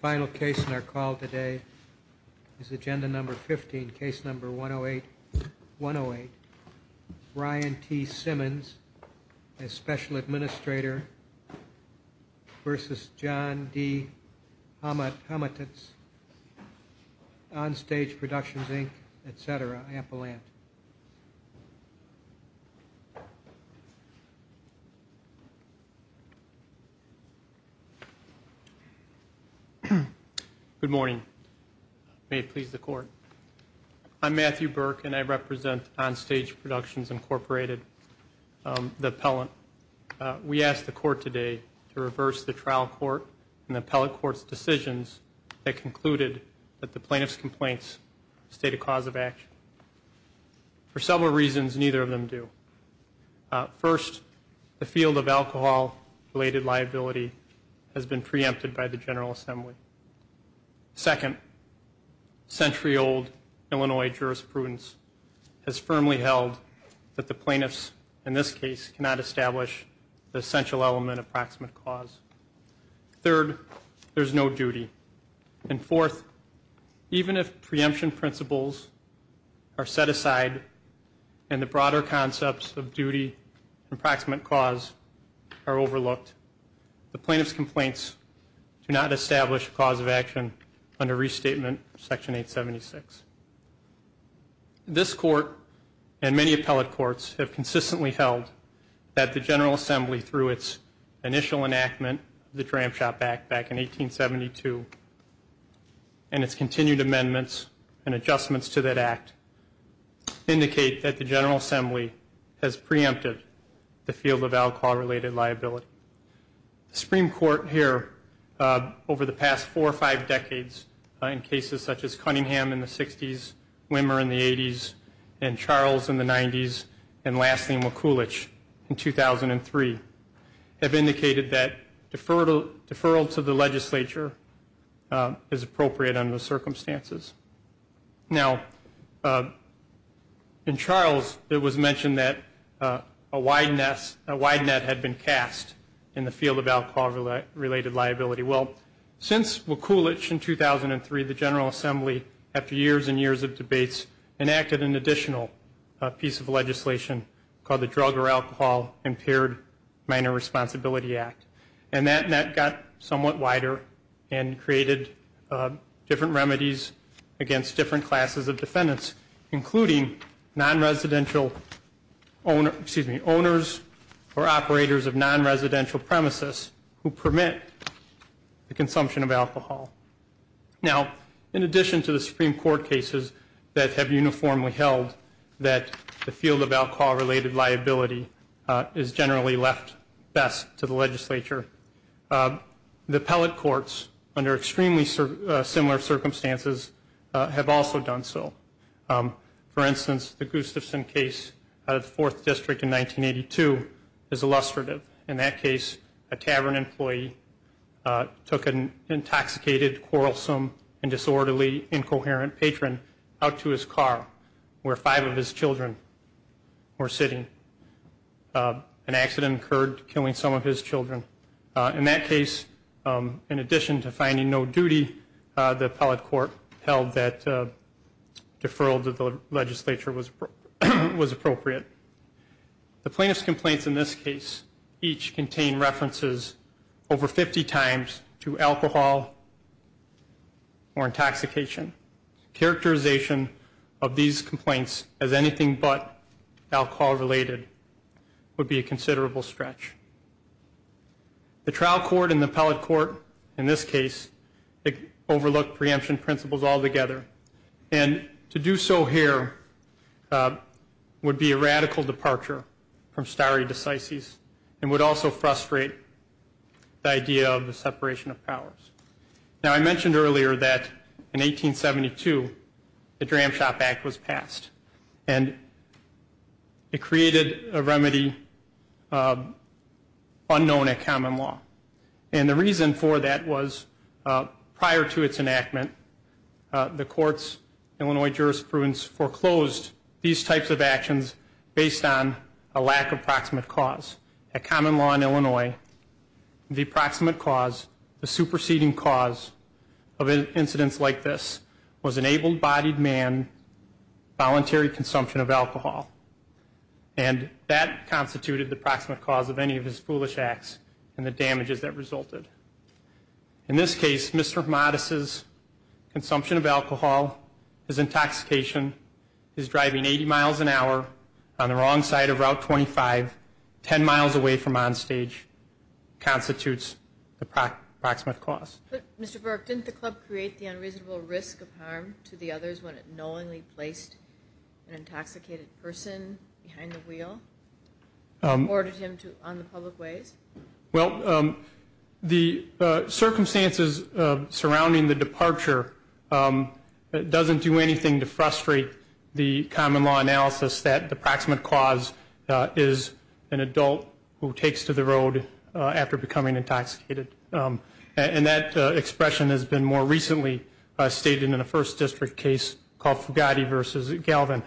final case in our call today is agenda number 15 case number 108 108 Ryan T Simmons as special administrator versus John D. Homatas on stage productions Inc etc Ampeland good morning may it please the court I'm Matthew Burke and I represent on stage productions incorporated the appellant we asked the court today to reverse the trial court and the appellate courts decisions that concluded that the plaintiffs complaints state a cause of action for several reasons neither of them do first the field of alcohol related liability has been preempted by the General Assembly second century-old Illinois jurisprudence has firmly held that the plaintiffs in this case cannot establish the essential element of proximate cause third there's no duty and fourth even if preemption principles are set aside and the broader concepts of duty approximate cause are overlooked the plaintiffs complaints do not establish cause of action under restatement section 876 this court and many appellate courts have consistently held that the General Assembly through its initial enactment the tram shop back back in 1872 and its continued amendments and adjustments to that act indicate that the General Assembly has preempted the field of alcohol related liability Supreme Court here over the past four or five decades in cases such as Cunningham in the 60s Wimmer in the 80s and Charles in the 90s and lastly McCulloch in 2003 have indicated that deferral deferral to the legislature is appropriate under the circumstances now in Charles it was mentioned that a nest a wide net had been cast in the field of alcohol related liability well since McCulloch in 2003 the General Assembly after years and years of debates enacted an additional piece of legislation called the drug or alcohol impaired minor responsibility act and that net got somewhat wider and created different remedies against different classes of defendants including non-residential owner excuse me owners or operators of non-residential premises who permit the consumption of alcohol now in addition to the Supreme Court cases that have uniformly held that the field of alcohol related liability is generally left best to the legislature the appellate courts under extremely similar circumstances have also done so for instance the Gustafson case of the fourth district in 1982 is illustrative in that case a tavern employee took an intoxicated quarrelsome and disorderly incoherent patron out to his car where five of his children were sitting an accident occurred killing some of his children in that case in addition to finding no duty the appellate court held that deferral to the legislature was appropriate the plaintiff's complaints in this case each contain references over 50 times to alcohol or intoxication characterization of these complaints as anything but alcohol related would be a the trial court in the appellate court in this case it overlooked preemption principles all together and to do so here would be a radical departure from stare decisis and would also frustrate the idea of the separation of powers now I mentioned earlier that in 1872 the Dram Shop Act was passed and it created a remedy unknown at common law and the reason for that was prior to its enactment the courts Illinois jurisprudence foreclosed these types of actions based on a lack of proximate cause at common law in Illinois the proximate cause the superseding cause of incidents like this was enabled bodied man voluntary consumption of alcohol and that constituted the proximate cause of any of his foolish acts and the damages that resulted in this case Mr. Modis is consumption of alcohol is intoxication is driving 80 miles an hour on the wrong side of Route 25 10 miles away from onstage constitutes the proximate cost Mr. Burke didn't the club create the unreasonable risk of harm to the others when it knowingly placed an intoxicated person behind the wheel ordered him to on the public ways well the circumstances surrounding the departure it doesn't do anything to frustrate the common law analysis that the proximate cause is an adult who takes to the road after becoming intoxicated and that expression has been more recently stated in a first district case called Fugati versus Galvin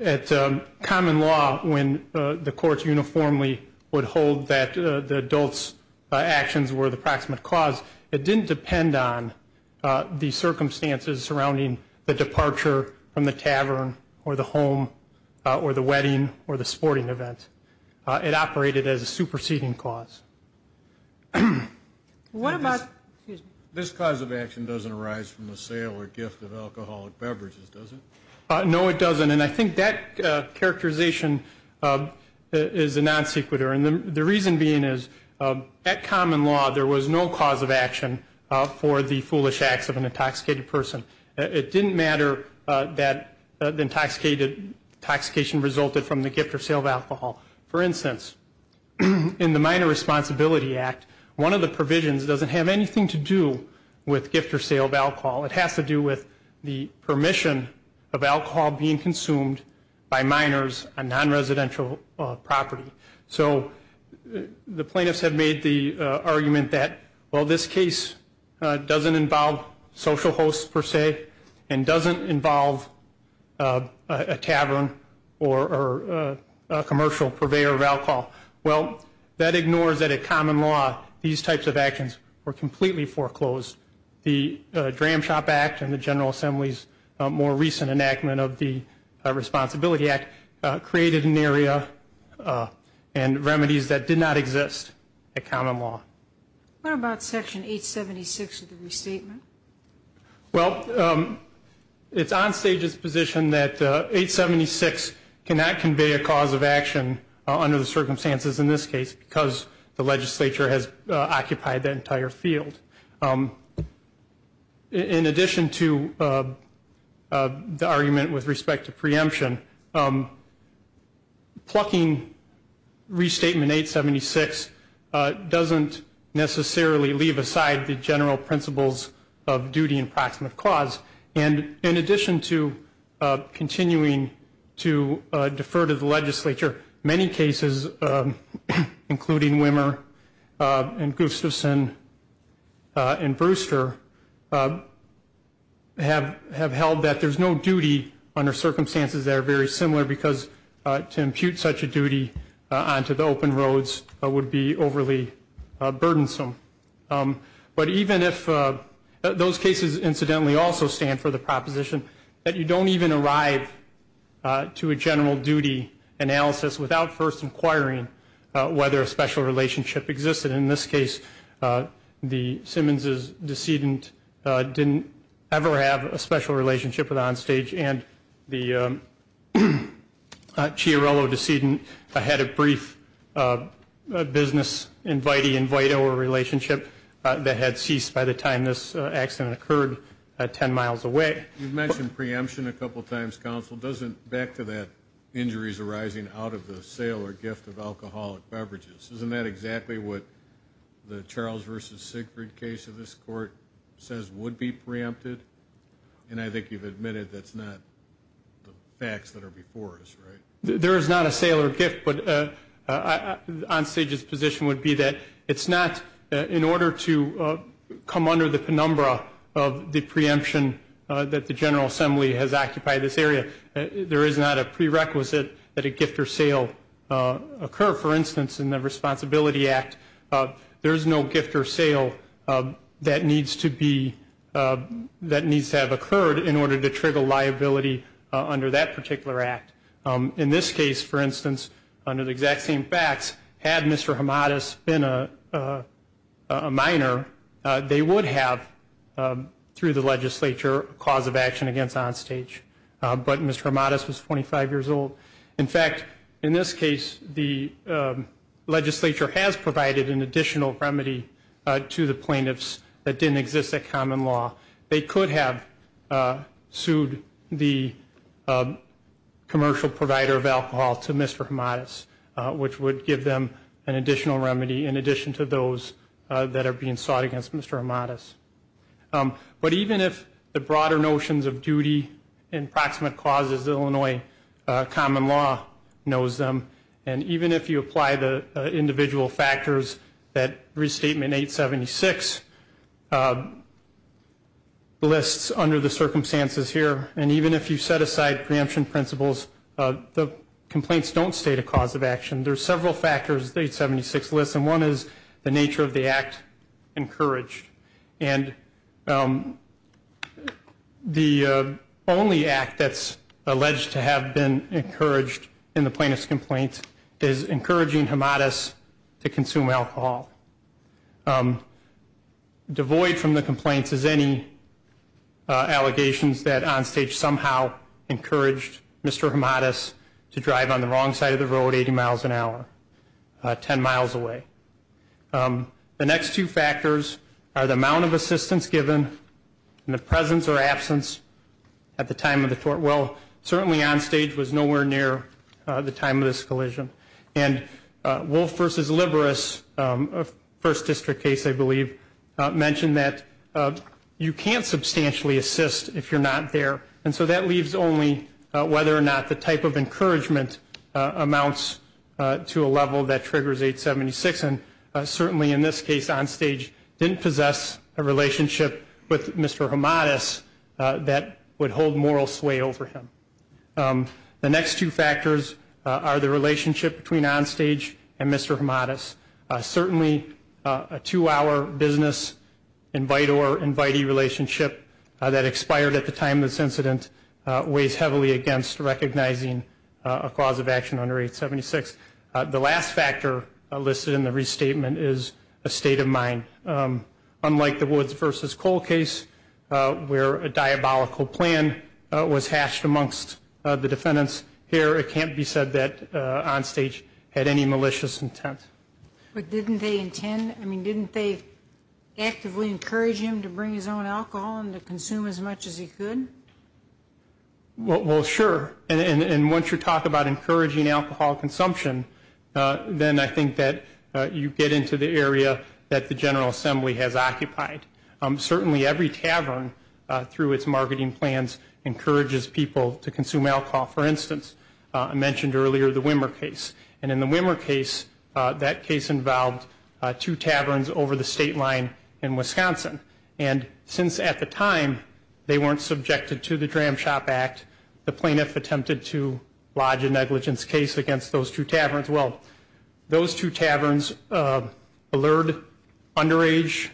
at common law when the courts uniformly would hold that the adults actions were the proximate cause it didn't depend on the circumstances surrounding the departure from the tavern or the home or the wedding or the sporting event it operated as a superseding cause what this cause of action doesn't arise from the sale or gift of alcoholic beverages doesn't know it doesn't and I think that characterization is a non sequitur and the reason being is that common law there was no cause of action for the foolish acts of an intoxicated person it didn't matter that the intoxicated toxication resulted from the gift or sale of alcohol for instance in the minor responsibility act one of the provisions doesn't have anything to do with gift or sale of alcohol it has to do with the permission of alcohol being consumed by minors on non-residential property so the plaintiffs have made the argument that well this case doesn't involve social hosts per se and doesn't involve a tavern or commercial purveyor of alcohol well that ignores that at common law these types of actions were completely foreclosed the Dram Shop Act and the General Assembly's more recent enactment of the Responsibility Act created an area and remedies that did not exist at common law. What about section 876 of the restatement? Well it's on stage's position that 876 cannot convey a cause of action under the circumstances in this case because the legislature has occupied the entire field. In addition to the argument with respect to preemption, plucking restatement 876 doesn't necessarily leave aside the general principles of duty and proximate cause and in addition to continuing to defer to the legislature many cases including Wimmer and Gustafson and Brewster have have held that there's no duty under circumstances that are very similar because to impute such a duty onto the open roads would be overly burdensome but even if those cases incidentally also stand for the proposition that you don't even arrive to a general duty analysis without first inquiring whether a special relationship existed in this case the Simmons's decedent didn't ever have a special relationship with on stage and the Chiarello decedent had a brief business invitee invite-over relationship that had ceased by the time this accident occurred at ten miles away. You mentioned preemption a couple times counsel doesn't back to that injuries arising out of the sale or gift of alcoholic beverages isn't that exactly what the Charles versus Sigfrid case of this court says would be preempted and I think you've admitted that's not the facts that are before us right? There is not a sale or gift but on stage's position would be that it's not in order to come under the penumbra of the area there is not a prerequisite that a gift or sale occur for instance in the Responsibility Act there is no gift or sale that needs to be that needs to have occurred in order to trigger liability under that particular act. In this case for instance under the exact same facts had Mr. Hamadis been a minor they would have through the legislature cause of action against on stage but Mr. Hamadis was 25 years old in fact in this case the legislature has provided an additional remedy to the plaintiffs that didn't exist at common law they could have sued the commercial provider of alcohol to Mr. Hamadis which would give them an additional remedy in addition to those that are being sought against Mr. Hamadis. But even if the broader notions of duty and proximate causes Illinois common law knows them and even if you apply the individual factors that restatement 876 lists under the circumstances here and even if you set aside preemption principles the complaints don't state a cause of action there's several factors the 876 lists and one is the nature of the act encouraged and the only act that's alleged to have been encouraged in the plaintiff's complaint is encouraging Hamadis to consume alcohol. Devoid from the complaints is any allegations that on stage somehow encouraged Mr. Hamadis to drive on the wrong side of the road 80 miles an hour 10 miles away. The next two factors are the amount of assistance given and the presence or absence at the time of the tort well certainly on stage was nowhere near the time of this collision and Wolf versus Liberis first district case I believe mentioned that you can't substantially assist if you're not there and so that leaves only whether or not the type of encouragement amounts to a level that on stage didn't possess a relationship with Mr. Hamadis that would hold moral sway over him. The next two factors are the relationship between on stage and Mr. Hamadis certainly a two-hour business invite or invitee relationship that expired at the time this incident weighs heavily against recognizing a cause of action under 876. The last factor listed in the restatement is a state of mind. Unlike the Woods versus Cole case where a diabolical plan was hashed amongst the defendants here it can't be said that on stage had any malicious intent. But didn't they intend I mean didn't they actively encourage him to bring his own alcohol and to consume as much as he could? Well sure and once you talk about encouraging alcohol consumption then I think that you get into the area that the General Assembly has occupied. Certainly every tavern through its marketing plans encourages people to consume alcohol. For instance I mentioned earlier the Wimmer case and in the Wimmer case that case involved two taverns over the state line in Wisconsin and since at the time they weren't subjected to the Dram Shop Act the plaintiff attempted to lodge a alert underage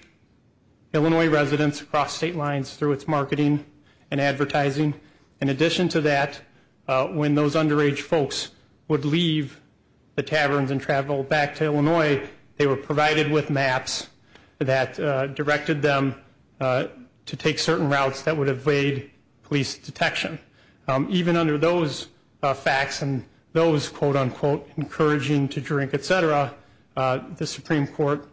Illinois residents across state lines through its marketing and advertising. In addition to that when those underage folks would leave the taverns and travel back to Illinois they were provided with maps that directed them to take certain routes that would evade police detection. Even under those facts and those quote-unquote encouraging to drink etc. the Supreme Court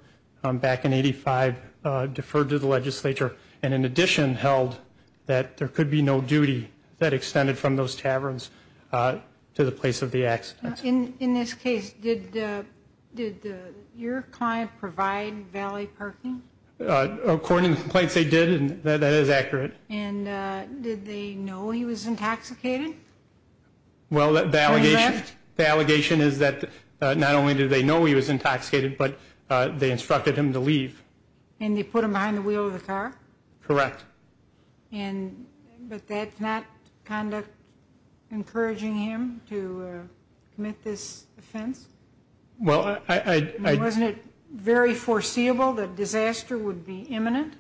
back in 85 deferred to the legislature and in addition held that there could be no duty that extended from those taverns to the place of the accidents. In this case did your client provide valet parking? According to well the allegation is that not only do they know he was intoxicated but they instructed him to leave. And they put him behind the wheel of the car? Correct. And but that's not conduct encouraging him to commit this offense? Well I wasn't it very foreseeable that disaster would be imminent?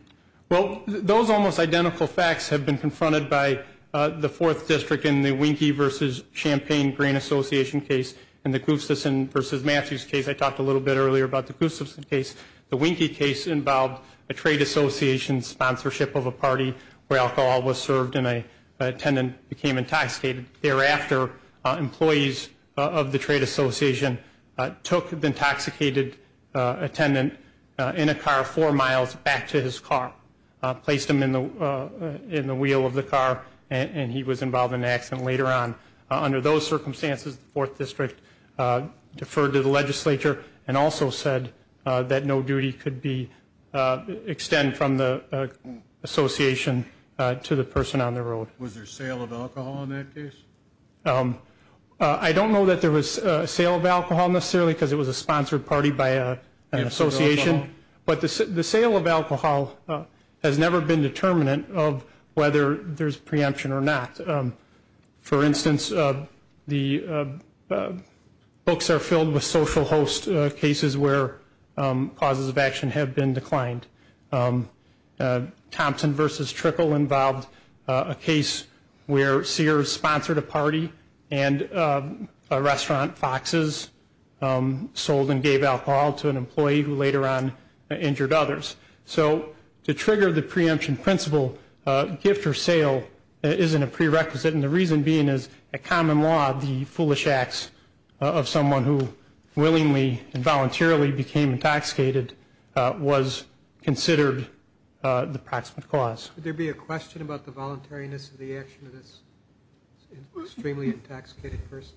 Well those almost Champaign Grain Association case and the Gustafson versus Matthews case I talked a little bit earlier about the Gustafson case. The Winky case involved a trade association sponsorship of a party where alcohol was served and a attendant became intoxicated. Thereafter employees of the trade association took the intoxicated attendant in a car four miles back to his car. Placed him in the wheel of the car and he was involved in an accident later on. Under those circumstances the fourth district deferred to the legislature and also said that no duty could be extend from the association to the person on the road. Was there sale of alcohol in that case? I don't know that there was a sale of alcohol necessarily because it was a sponsored party by an association. But the sale of alcohol has never been determinant of whether there's preemption or not. For instance the books are filled with social host cases where causes of action have been declined. Thompson versus Trickle involved a case where Sears sponsored a party and a restaurant Fox's sold and injured others. So to trigger the preemption principle gift or sale isn't a prerequisite. And the reason being is a common law the foolish acts of someone who willingly and voluntarily became intoxicated was considered the proximate cause. Would there be a question about the voluntariness of the action of this extremely intoxicated person?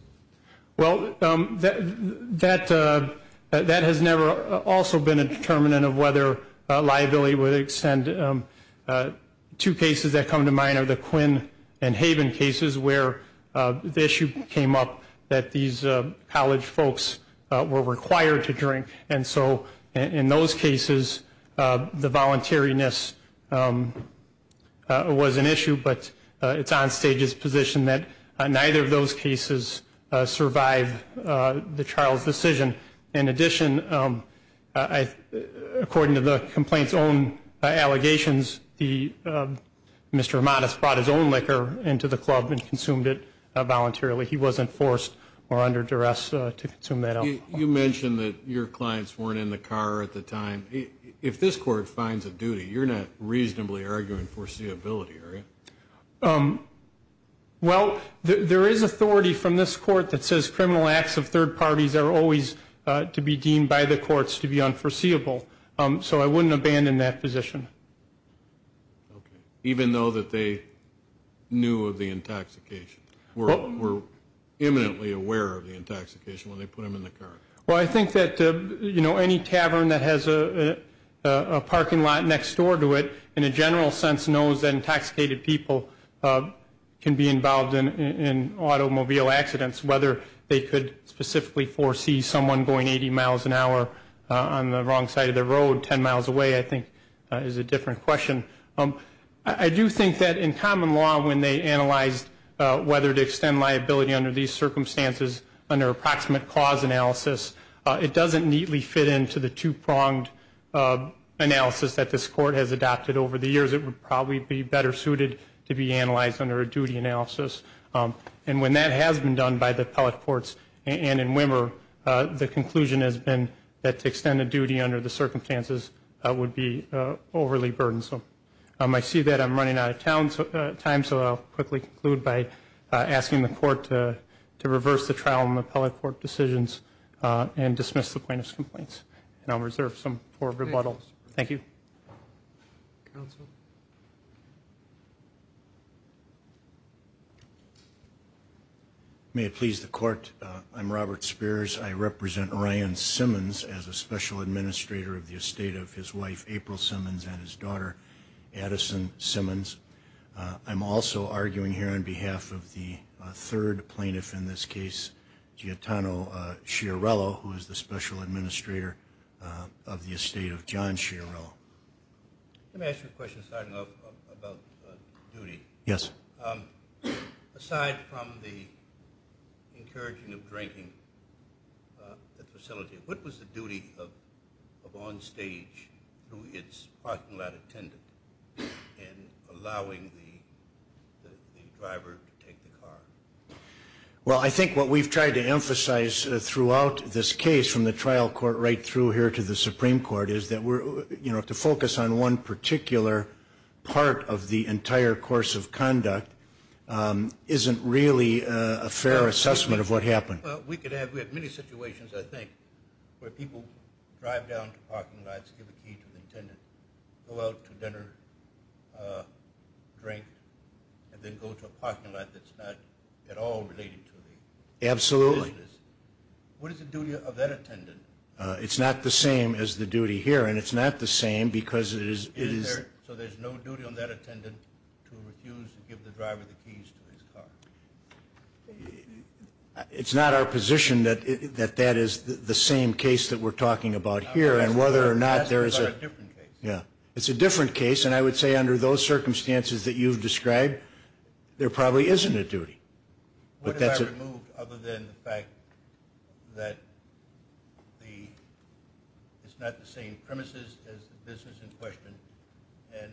Well that has never also been a question. The other liability would extend two cases that come to mind are the Quinn and Haven cases where the issue came up that these college folks were required to drink. And so in those cases the voluntariness was an issue but it's on stage's position that neither of those cases survive the trial's decision. In the complaints own allegations the Mr. Modest brought his own liquor into the club and consumed it voluntarily. He wasn't forced or under duress to consume that. You mentioned that your clients weren't in the car at the time. If this court finds a duty you're not reasonably arguing foreseeability area. Well there is authority from this court that says criminal acts of third parties are always to be deemed by the courts to be unforeseeable. So I wouldn't abandon that position. Even though that they knew of the intoxication? Were imminently aware of the intoxication when they put him in the car? Well I think that you know any tavern that has a parking lot next door to it in a general sense knows that intoxicated people can be involved in automobile accidents whether they could specifically foresee someone going 80 miles an hour on the wrong side of the road 10 miles away I think is a different question. I do think that in common law when they analyzed whether to extend liability under these circumstances under approximate cause analysis it doesn't neatly fit into the two-pronged analysis that this court has adopted over the years. It would probably be better suited to be analyzed under a duty analysis. And when that has been done by the appellate courts and in Wimmer the conclusion has been that to extend a duty under the circumstances would be overly burdensome. I see that I'm running out of time so I'll quickly conclude by asking the court to reverse the trial in the appellate court decisions and dismiss the plaintiff's complaints. And I'll reserve some for rebuttals. Thank you. May it please the court I'm Robert Spears I represent Ryan Simmons as a special administrator of the estate of his wife April Simmons and his daughter Addison Simmons. I'm also arguing here on behalf of the third plaintiff in this case Giottano Sciarrello who is the special administrator of the estate of Giottano Sciarrello. Let me ask you a question starting off about duty. Yes. Aside from the encouraging of drinking facility what was the duty of on stage through its parking lot attendant in allowing the driver to take the car? Well I think what we've tried to emphasize throughout this case from the trial court right through here to the Supreme Court is that we're you know to focus on one particular part of the entire course of conduct isn't really a fair assessment of what and it's not the same because it is it's not our position that that is the same case that we're talking about here and whether or not there is a yeah it's a different case and I would say under those circumstances that you've What have I removed other than the fact that it's not the same premises as the business in question and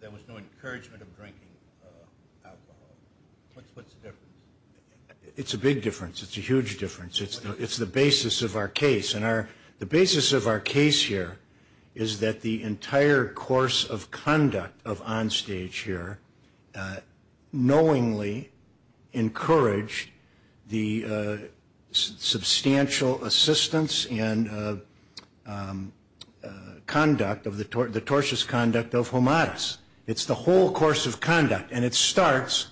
there was no encouragement of drinking alcohol? What's the difference? It's a big difference. It's a huge difference. It's the basis of our case and our the basis of our case here is that the entire course of conduct of on stage here knowingly encouraged the substantial assistance and conduct of the tortious conduct of homodis. It's the whole course of conduct and it starts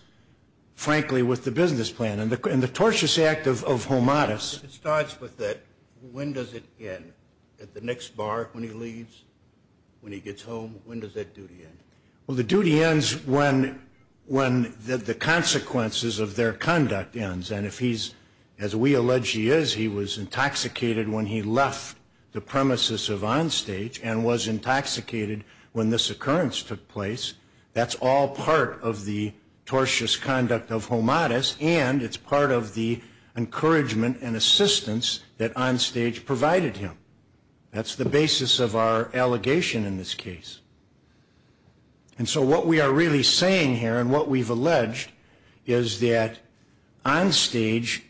frankly with the business plan and the tortious act of homodis. It starts with that when does it end at the next bar when he leaves when he gets home when Well the duty ends when when the consequences of their conduct ends and if he's as we allege he is he was intoxicated when he left the premises of on stage and was intoxicated when this occurrence took place that's all part of the tortious conduct of homodis and it's part of the encouragement and assistance that on stage provided him. That's the basis of our allegation in this case and so what we are really saying here and what we've alleged is that on stage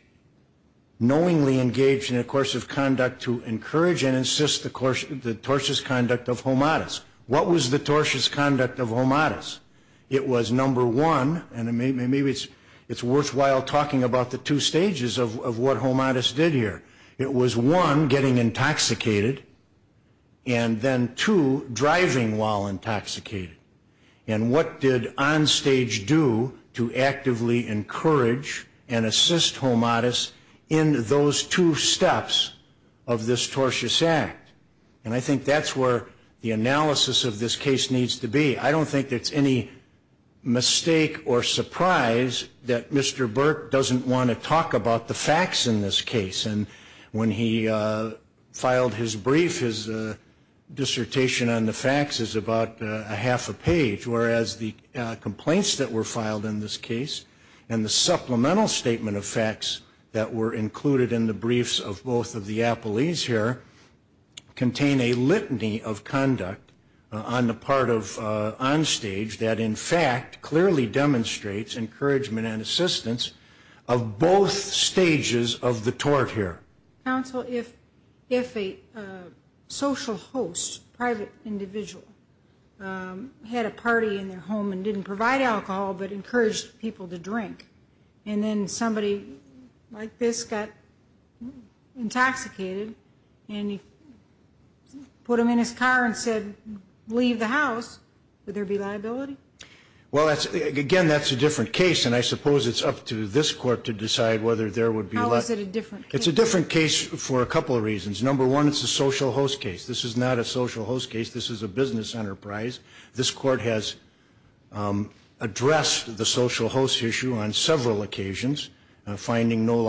knowingly engaged in a course of conduct to encourage and insist the course of the tortious conduct of homodis. What was the tortious conduct of homodis? It was number one and maybe it's worthwhile talking about the two stages of what homodis did here. It was one getting intoxicated and then two driving while intoxicated and what did on stage do to actively encourage and assist homodis in those two steps of this tortious act and I think that's where the analysis of this case needs to be. I don't think that's any mistake or the facts in this case and when he filed his brief his dissertation on the facts is about a half a page whereas the complaints that were filed in this case and the supplemental statement of facts that were included in the briefs of both of the appellees here contain a litany of conduct on the part of on stage that in fact clearly demonstrates encouragement and assistance of both stages of the tort here. Counsel, if a social host, private individual, had a party in their home and didn't provide alcohol but encouraged people to drink and then somebody like this got intoxicated and he put him in his car and said leave the house, would there be liability? Well that's again that's a different case and I suppose it's up to this court to decide whether there would be. How is it a different case? It's a different case for a couple of reasons. Number one it's a social host case. This is not a social host case. This is a business enterprise. This court has addressed the social host issue on several occasions finding no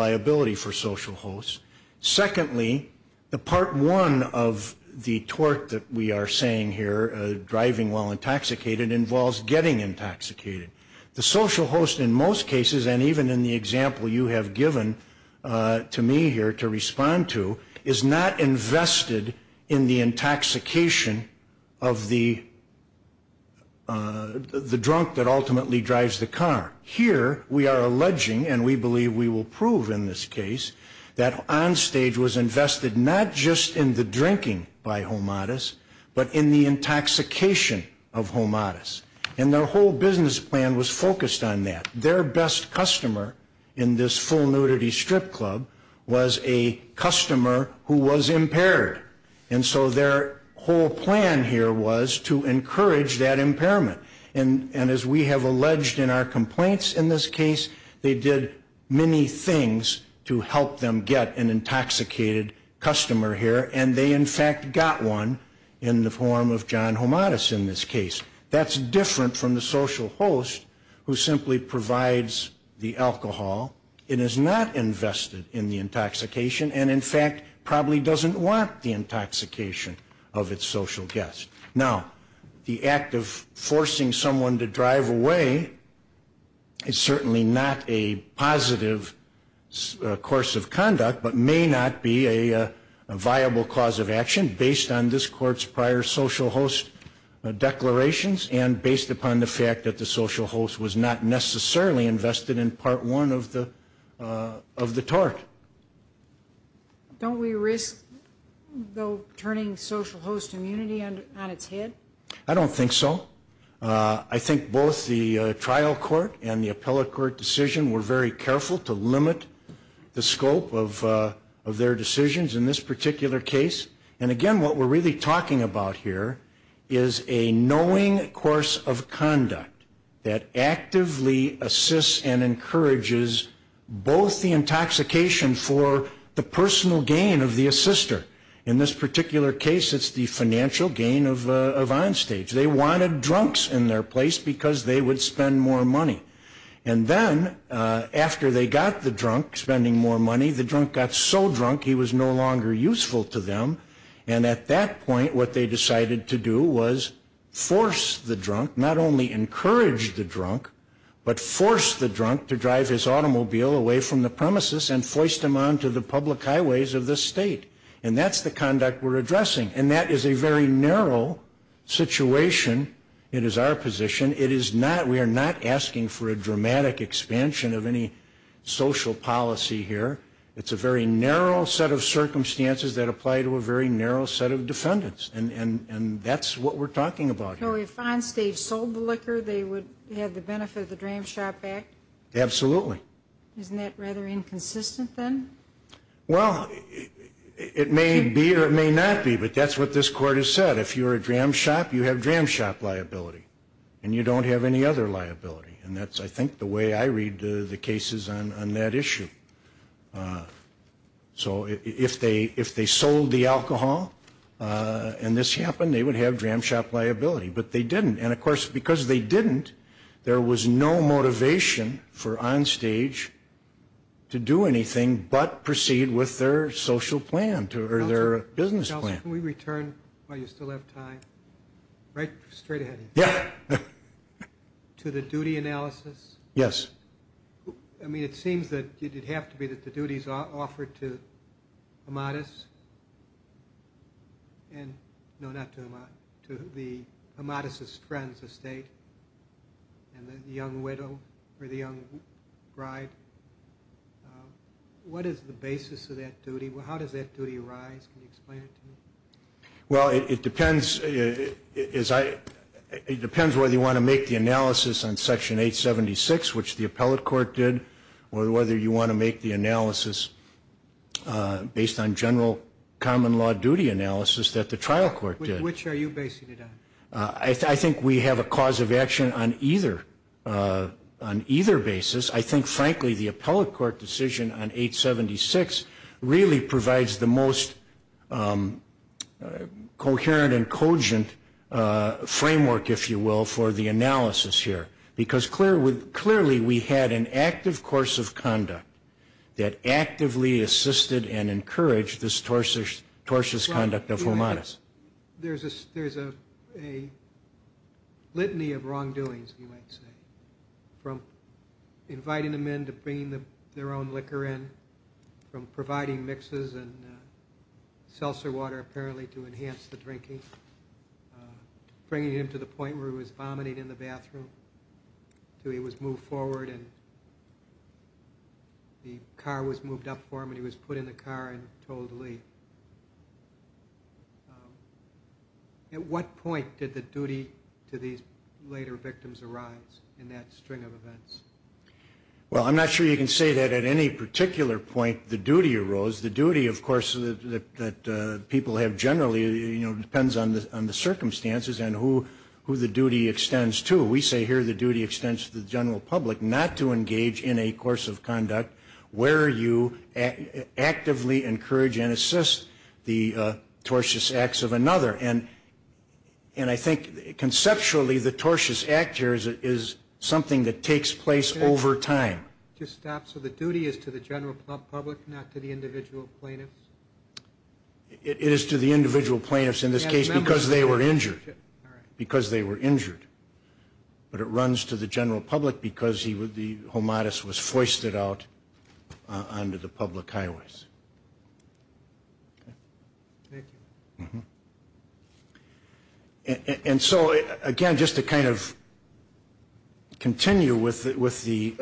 One of the tort that we are saying here, driving while intoxicated, involves getting intoxicated. The social host in most cases and even in the example you have given to me here to respond to is not invested in the intoxication of the drunk that ultimately drives the car. Here we are alleging and we believe we are not just in the drinking by Homatis but in the intoxication of Homatis. And their whole business plan was focused on that. Their best customer in this full nudity strip club was a customer who was impaired and so their whole plan here was to encourage that impairment. And as we have alleged in our complaints in this case they did many things to help them get an intoxicated customer here and they in fact got one in the form of John Homatis in this case. That's different from the social host who simply provides the alcohol and is not invested in the intoxication and in fact probably doesn't want the intoxication of its a positive course of conduct but may not be a viable cause of action based on this court's prior social host declarations and based upon the fact that the social host was not necessarily invested in part one of the of the tort. Don't we risk though turning social host immunity on its head? I don't think so. I think the appellate court decision were very careful to limit the scope of their decisions in this particular case. And again what we're really talking about here is a knowing course of conduct that actively assists and encourages both the intoxication for the personal gain of the assister. In this particular case it's the financial gain of Onstage. They wanted drunks in their place because they would spend more money and then after they got the drunk spending more money the drunk got so drunk he was no longer useful to them and at that point what they decided to do was force the drunk not only encourage the drunk but force the drunk to drive his automobile away from the premises and foist him on to the public highways of the state. And that's the conduct we're addressing and that is a very narrow situation. It is our position. It is not we are not asking for a dramatic expansion of any social policy here. It's a very narrow set of circumstances that apply to a very narrow set of defendants and and that's what we're talking about. So if Onstage sold the liquor they would have the benefit of the Dram Shop Act? Absolutely. Isn't that rather inconsistent then? Well it may be or it may not be but that's what this court has said. If you're a Dram Shop you have Dram Shop liability and you don't have any other liability and that's I think the way I read the cases on that issue. So if they if they sold the alcohol and this happened they would have Dram Shop liability but they didn't and of course because they didn't there was no motivation for Onstage to do anything but proceed with their social plan to or their business plan. Can we return while you still have time? Right straight ahead. Yeah. To the duty analysis? Yes. I mean it seems that you did have to be that the duties are offered to Amatis and no not to Amatis, to the Amatis's friend's estate and the young widow or the young bride. What is the basis of that duty? Well how does that duty arise? Can you explain it to me? Well it depends is I it depends whether you want to make the analysis on section 876 which the appellate court did or whether you want to make the analysis based on general common law duty analysis that the trial court did. Which are you basing it on? I think we have a cause of action on either on either basis. I think frankly the appellate court decision on 876 really provides the most coherent and cogent framework if you will for the analysis here. Because clear with clearly we had an active course of conduct that actively assisted and encouraged this tortuous conduct of Amatis. There's a litany of wrongdoings you might say. From inviting the men to bring their own liquor in, from providing mixes and seltzer water apparently to enhance the drinking, bringing him to the point where he was vomiting in the bathroom, till he was moved forward and the car was moved up and he was put in the car and told to leave. At what point did the duty to these later victims arise in that string of events? Well I'm not sure you can say that at any particular point the duty arose. The duty of course that people have generally you know depends on the on the circumstances and who who the duty extends to. We say here the duty extends to the general public not to actively encourage and assist the tortious acts of another. And and I think conceptually the tortious act here is something that takes place over time. Just stop. So the duty is to the general public not to the individual plaintiffs? It is to the individual plaintiffs in this case because they were injured. Because they were injured. But it runs to the general public because he would the out onto the public highways. And so again just to kind of continue with it with the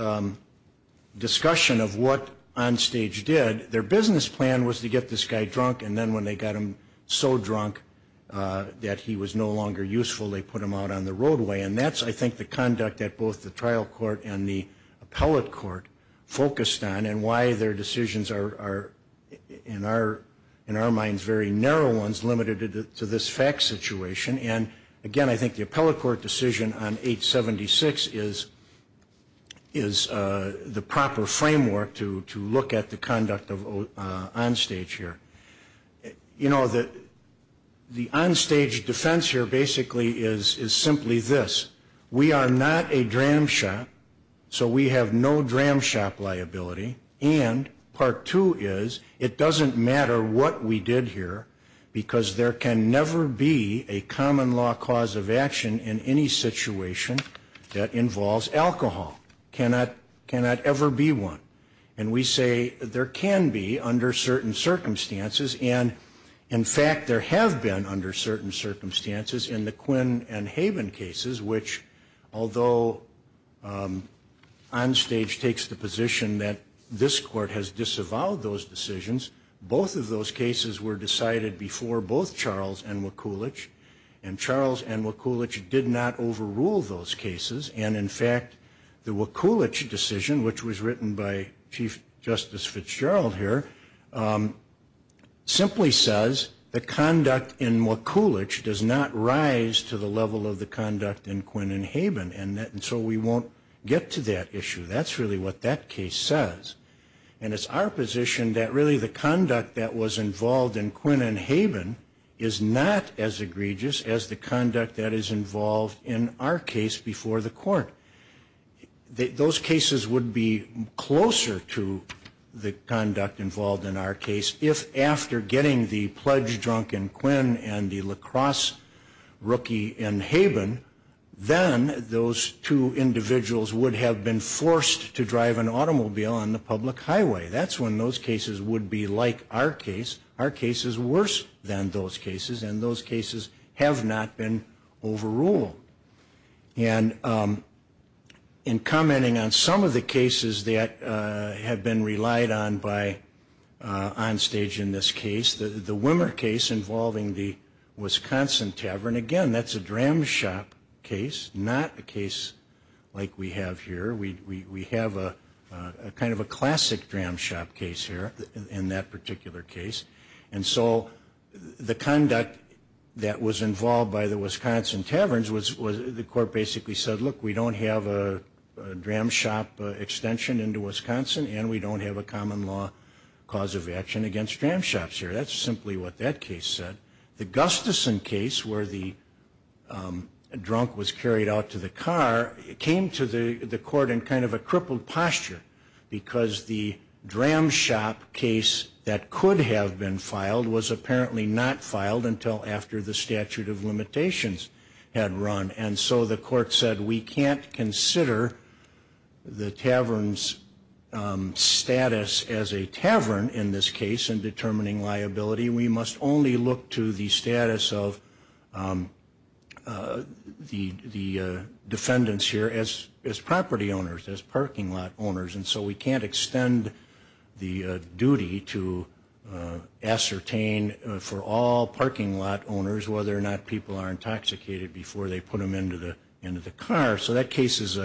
discussion of what Onstage did, their business plan was to get this guy drunk and then when they got him so drunk that he was no longer useful they put him out on the roadway. And that's I think the conduct that both the trial court and the appellate court focused on and why their decisions are in our in our minds very narrow ones limited to this fact situation. And again I think the appellate court decision on 876 is is the proper framework to to look at the conduct of Onstage here. You know that the Onstage defense here basically is is simply this. We are not a dram shop so we have no dram shop liability. And part two is it doesn't matter what we did here because there can never be a common law cause of action in any situation that involves alcohol. Cannot cannot ever be one. And we say there can be under certain circumstances and in fact there have been under certain circumstances in the Quinn and Haven cases which although Onstage takes the position that this court has disavowed those decisions, both of those cases were decided before both Charles and Wakulich. And Charles and Wakulich did not overrule those cases and in fact the Wakulich decision which was written by Chief Justice Fitzgerald here simply says the conduct in Wakulich does not rise to the level of the conduct in Quinn and Haven and that and so we won't get to that issue. That's really what that case says. And it's our position that really the conduct that was involved in Quinn and Haven is not as egregious as the conduct that is involved in our case before the court. Those cases would be closer to the and in commenting on some of the cases that have been relied on by Onstage in this case. The Wimmer case involving the Wisconsin Tavern, again that's a dram shop case, not a case like we have here. We have a kind of a classic dram shop case here in that particular case. And so the conduct that was involved by the Wisconsin Taverns was the court basically said look we don't have a dram shop extension into Wisconsin and we don't have a common law cause of action against dram shops here. That's simply what that case said. The Gustafson case where the drunk was carried out to the car came to the the court in kind of a crippled posture because the dram shop case that could have been filed was apparently not filed until after the statute of limitations had run and so the court said we can't consider the taverns status as a tavern in this case in determining liability. We must only look to the status of the defendants here as property owners, as parking lot owners. And so we can't extend the duty to ascertain for all parking lot owners whether or not people are intoxicated before they put them into the car. So that case is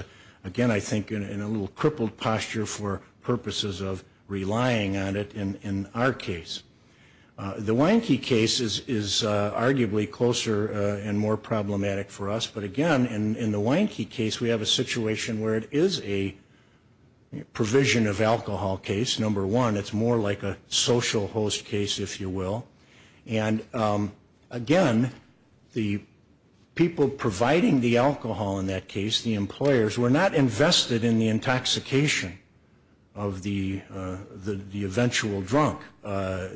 again I think in a little crippled posture for purposes of relying on it in our case. The Wienke case is arguably closer and more problematic for us but again in the Wienke case we have a situation where it is a provision of alcohol case. Number one it's more like a social host case if you will and again the people providing the alcohol in that case, the employers, were not invested in the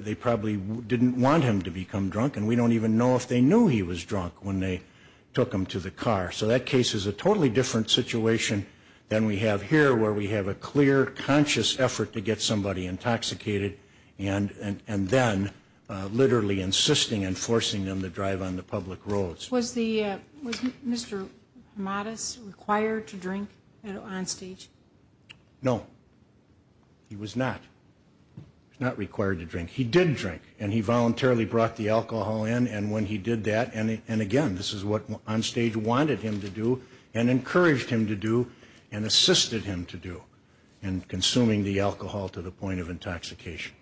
they probably didn't want him to become drunk and we don't even know if they knew he was drunk when they took him to the car. So that case is a totally different situation than we have here where we have a clear conscious effort to get somebody intoxicated and then literally insisting and forcing them to drive on the public roads. Was Mr. Hamadas required to drink on stage? No. He was not. He was not required to drink. He did drink and he voluntarily brought the alcohol in and when he did that and again this is what on stage wanted him to do and encouraged him to do and assisted him to do in consuming the alcohol to the point of intoxication.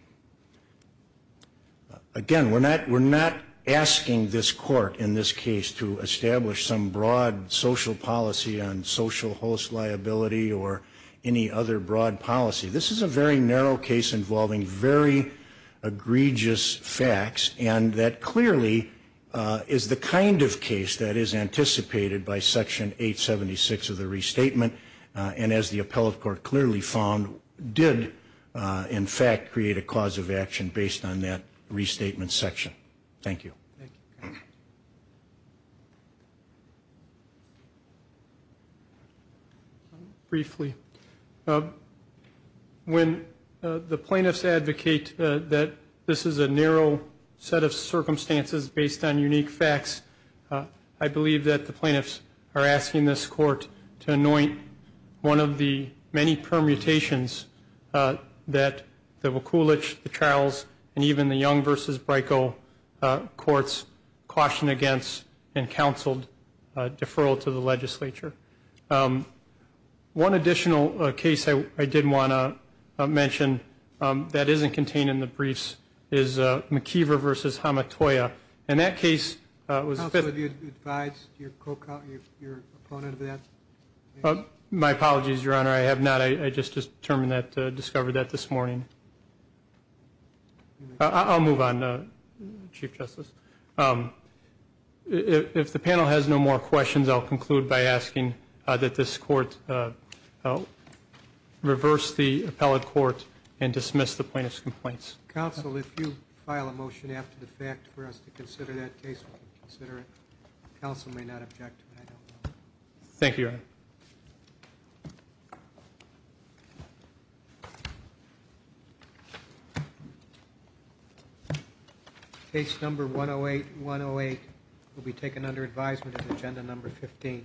Again we're not we're not asking this court in this case to establish some broad social policy on social host liability or any other broad policy. This is a very narrow case involving very egregious facts and that clearly is the kind of case that is anticipated by section 876 of the restatement and as the appellate court clearly found did in fact create a cause of action based on that restatement section. Thank you. Briefly, when the plaintiffs advocate that this is a narrow set of circumstances based on unique facts I believe that the plaintiffs are asking this court to anoint one of the many permutations that the Wachulich, the Charles and even the Young versus Brico courts caution against and counseled One additional case I did want to mention that isn't contained in the briefs is McKeever versus Hamatoya. In that case, my apologies your honor I have not I just just determined that discovered that this morning. I'll move on Chief Justice. If the panel has no more questions I'll conclude by asking that this court reverse the appellate court and dismiss the plaintiff's complaints. Counsel, if you file a motion after the fact for us to consider that case, we'll consider it. Counsel may not object. Thank you, your honor. Case number 108-108 will be taken under advisement of agenda number 15.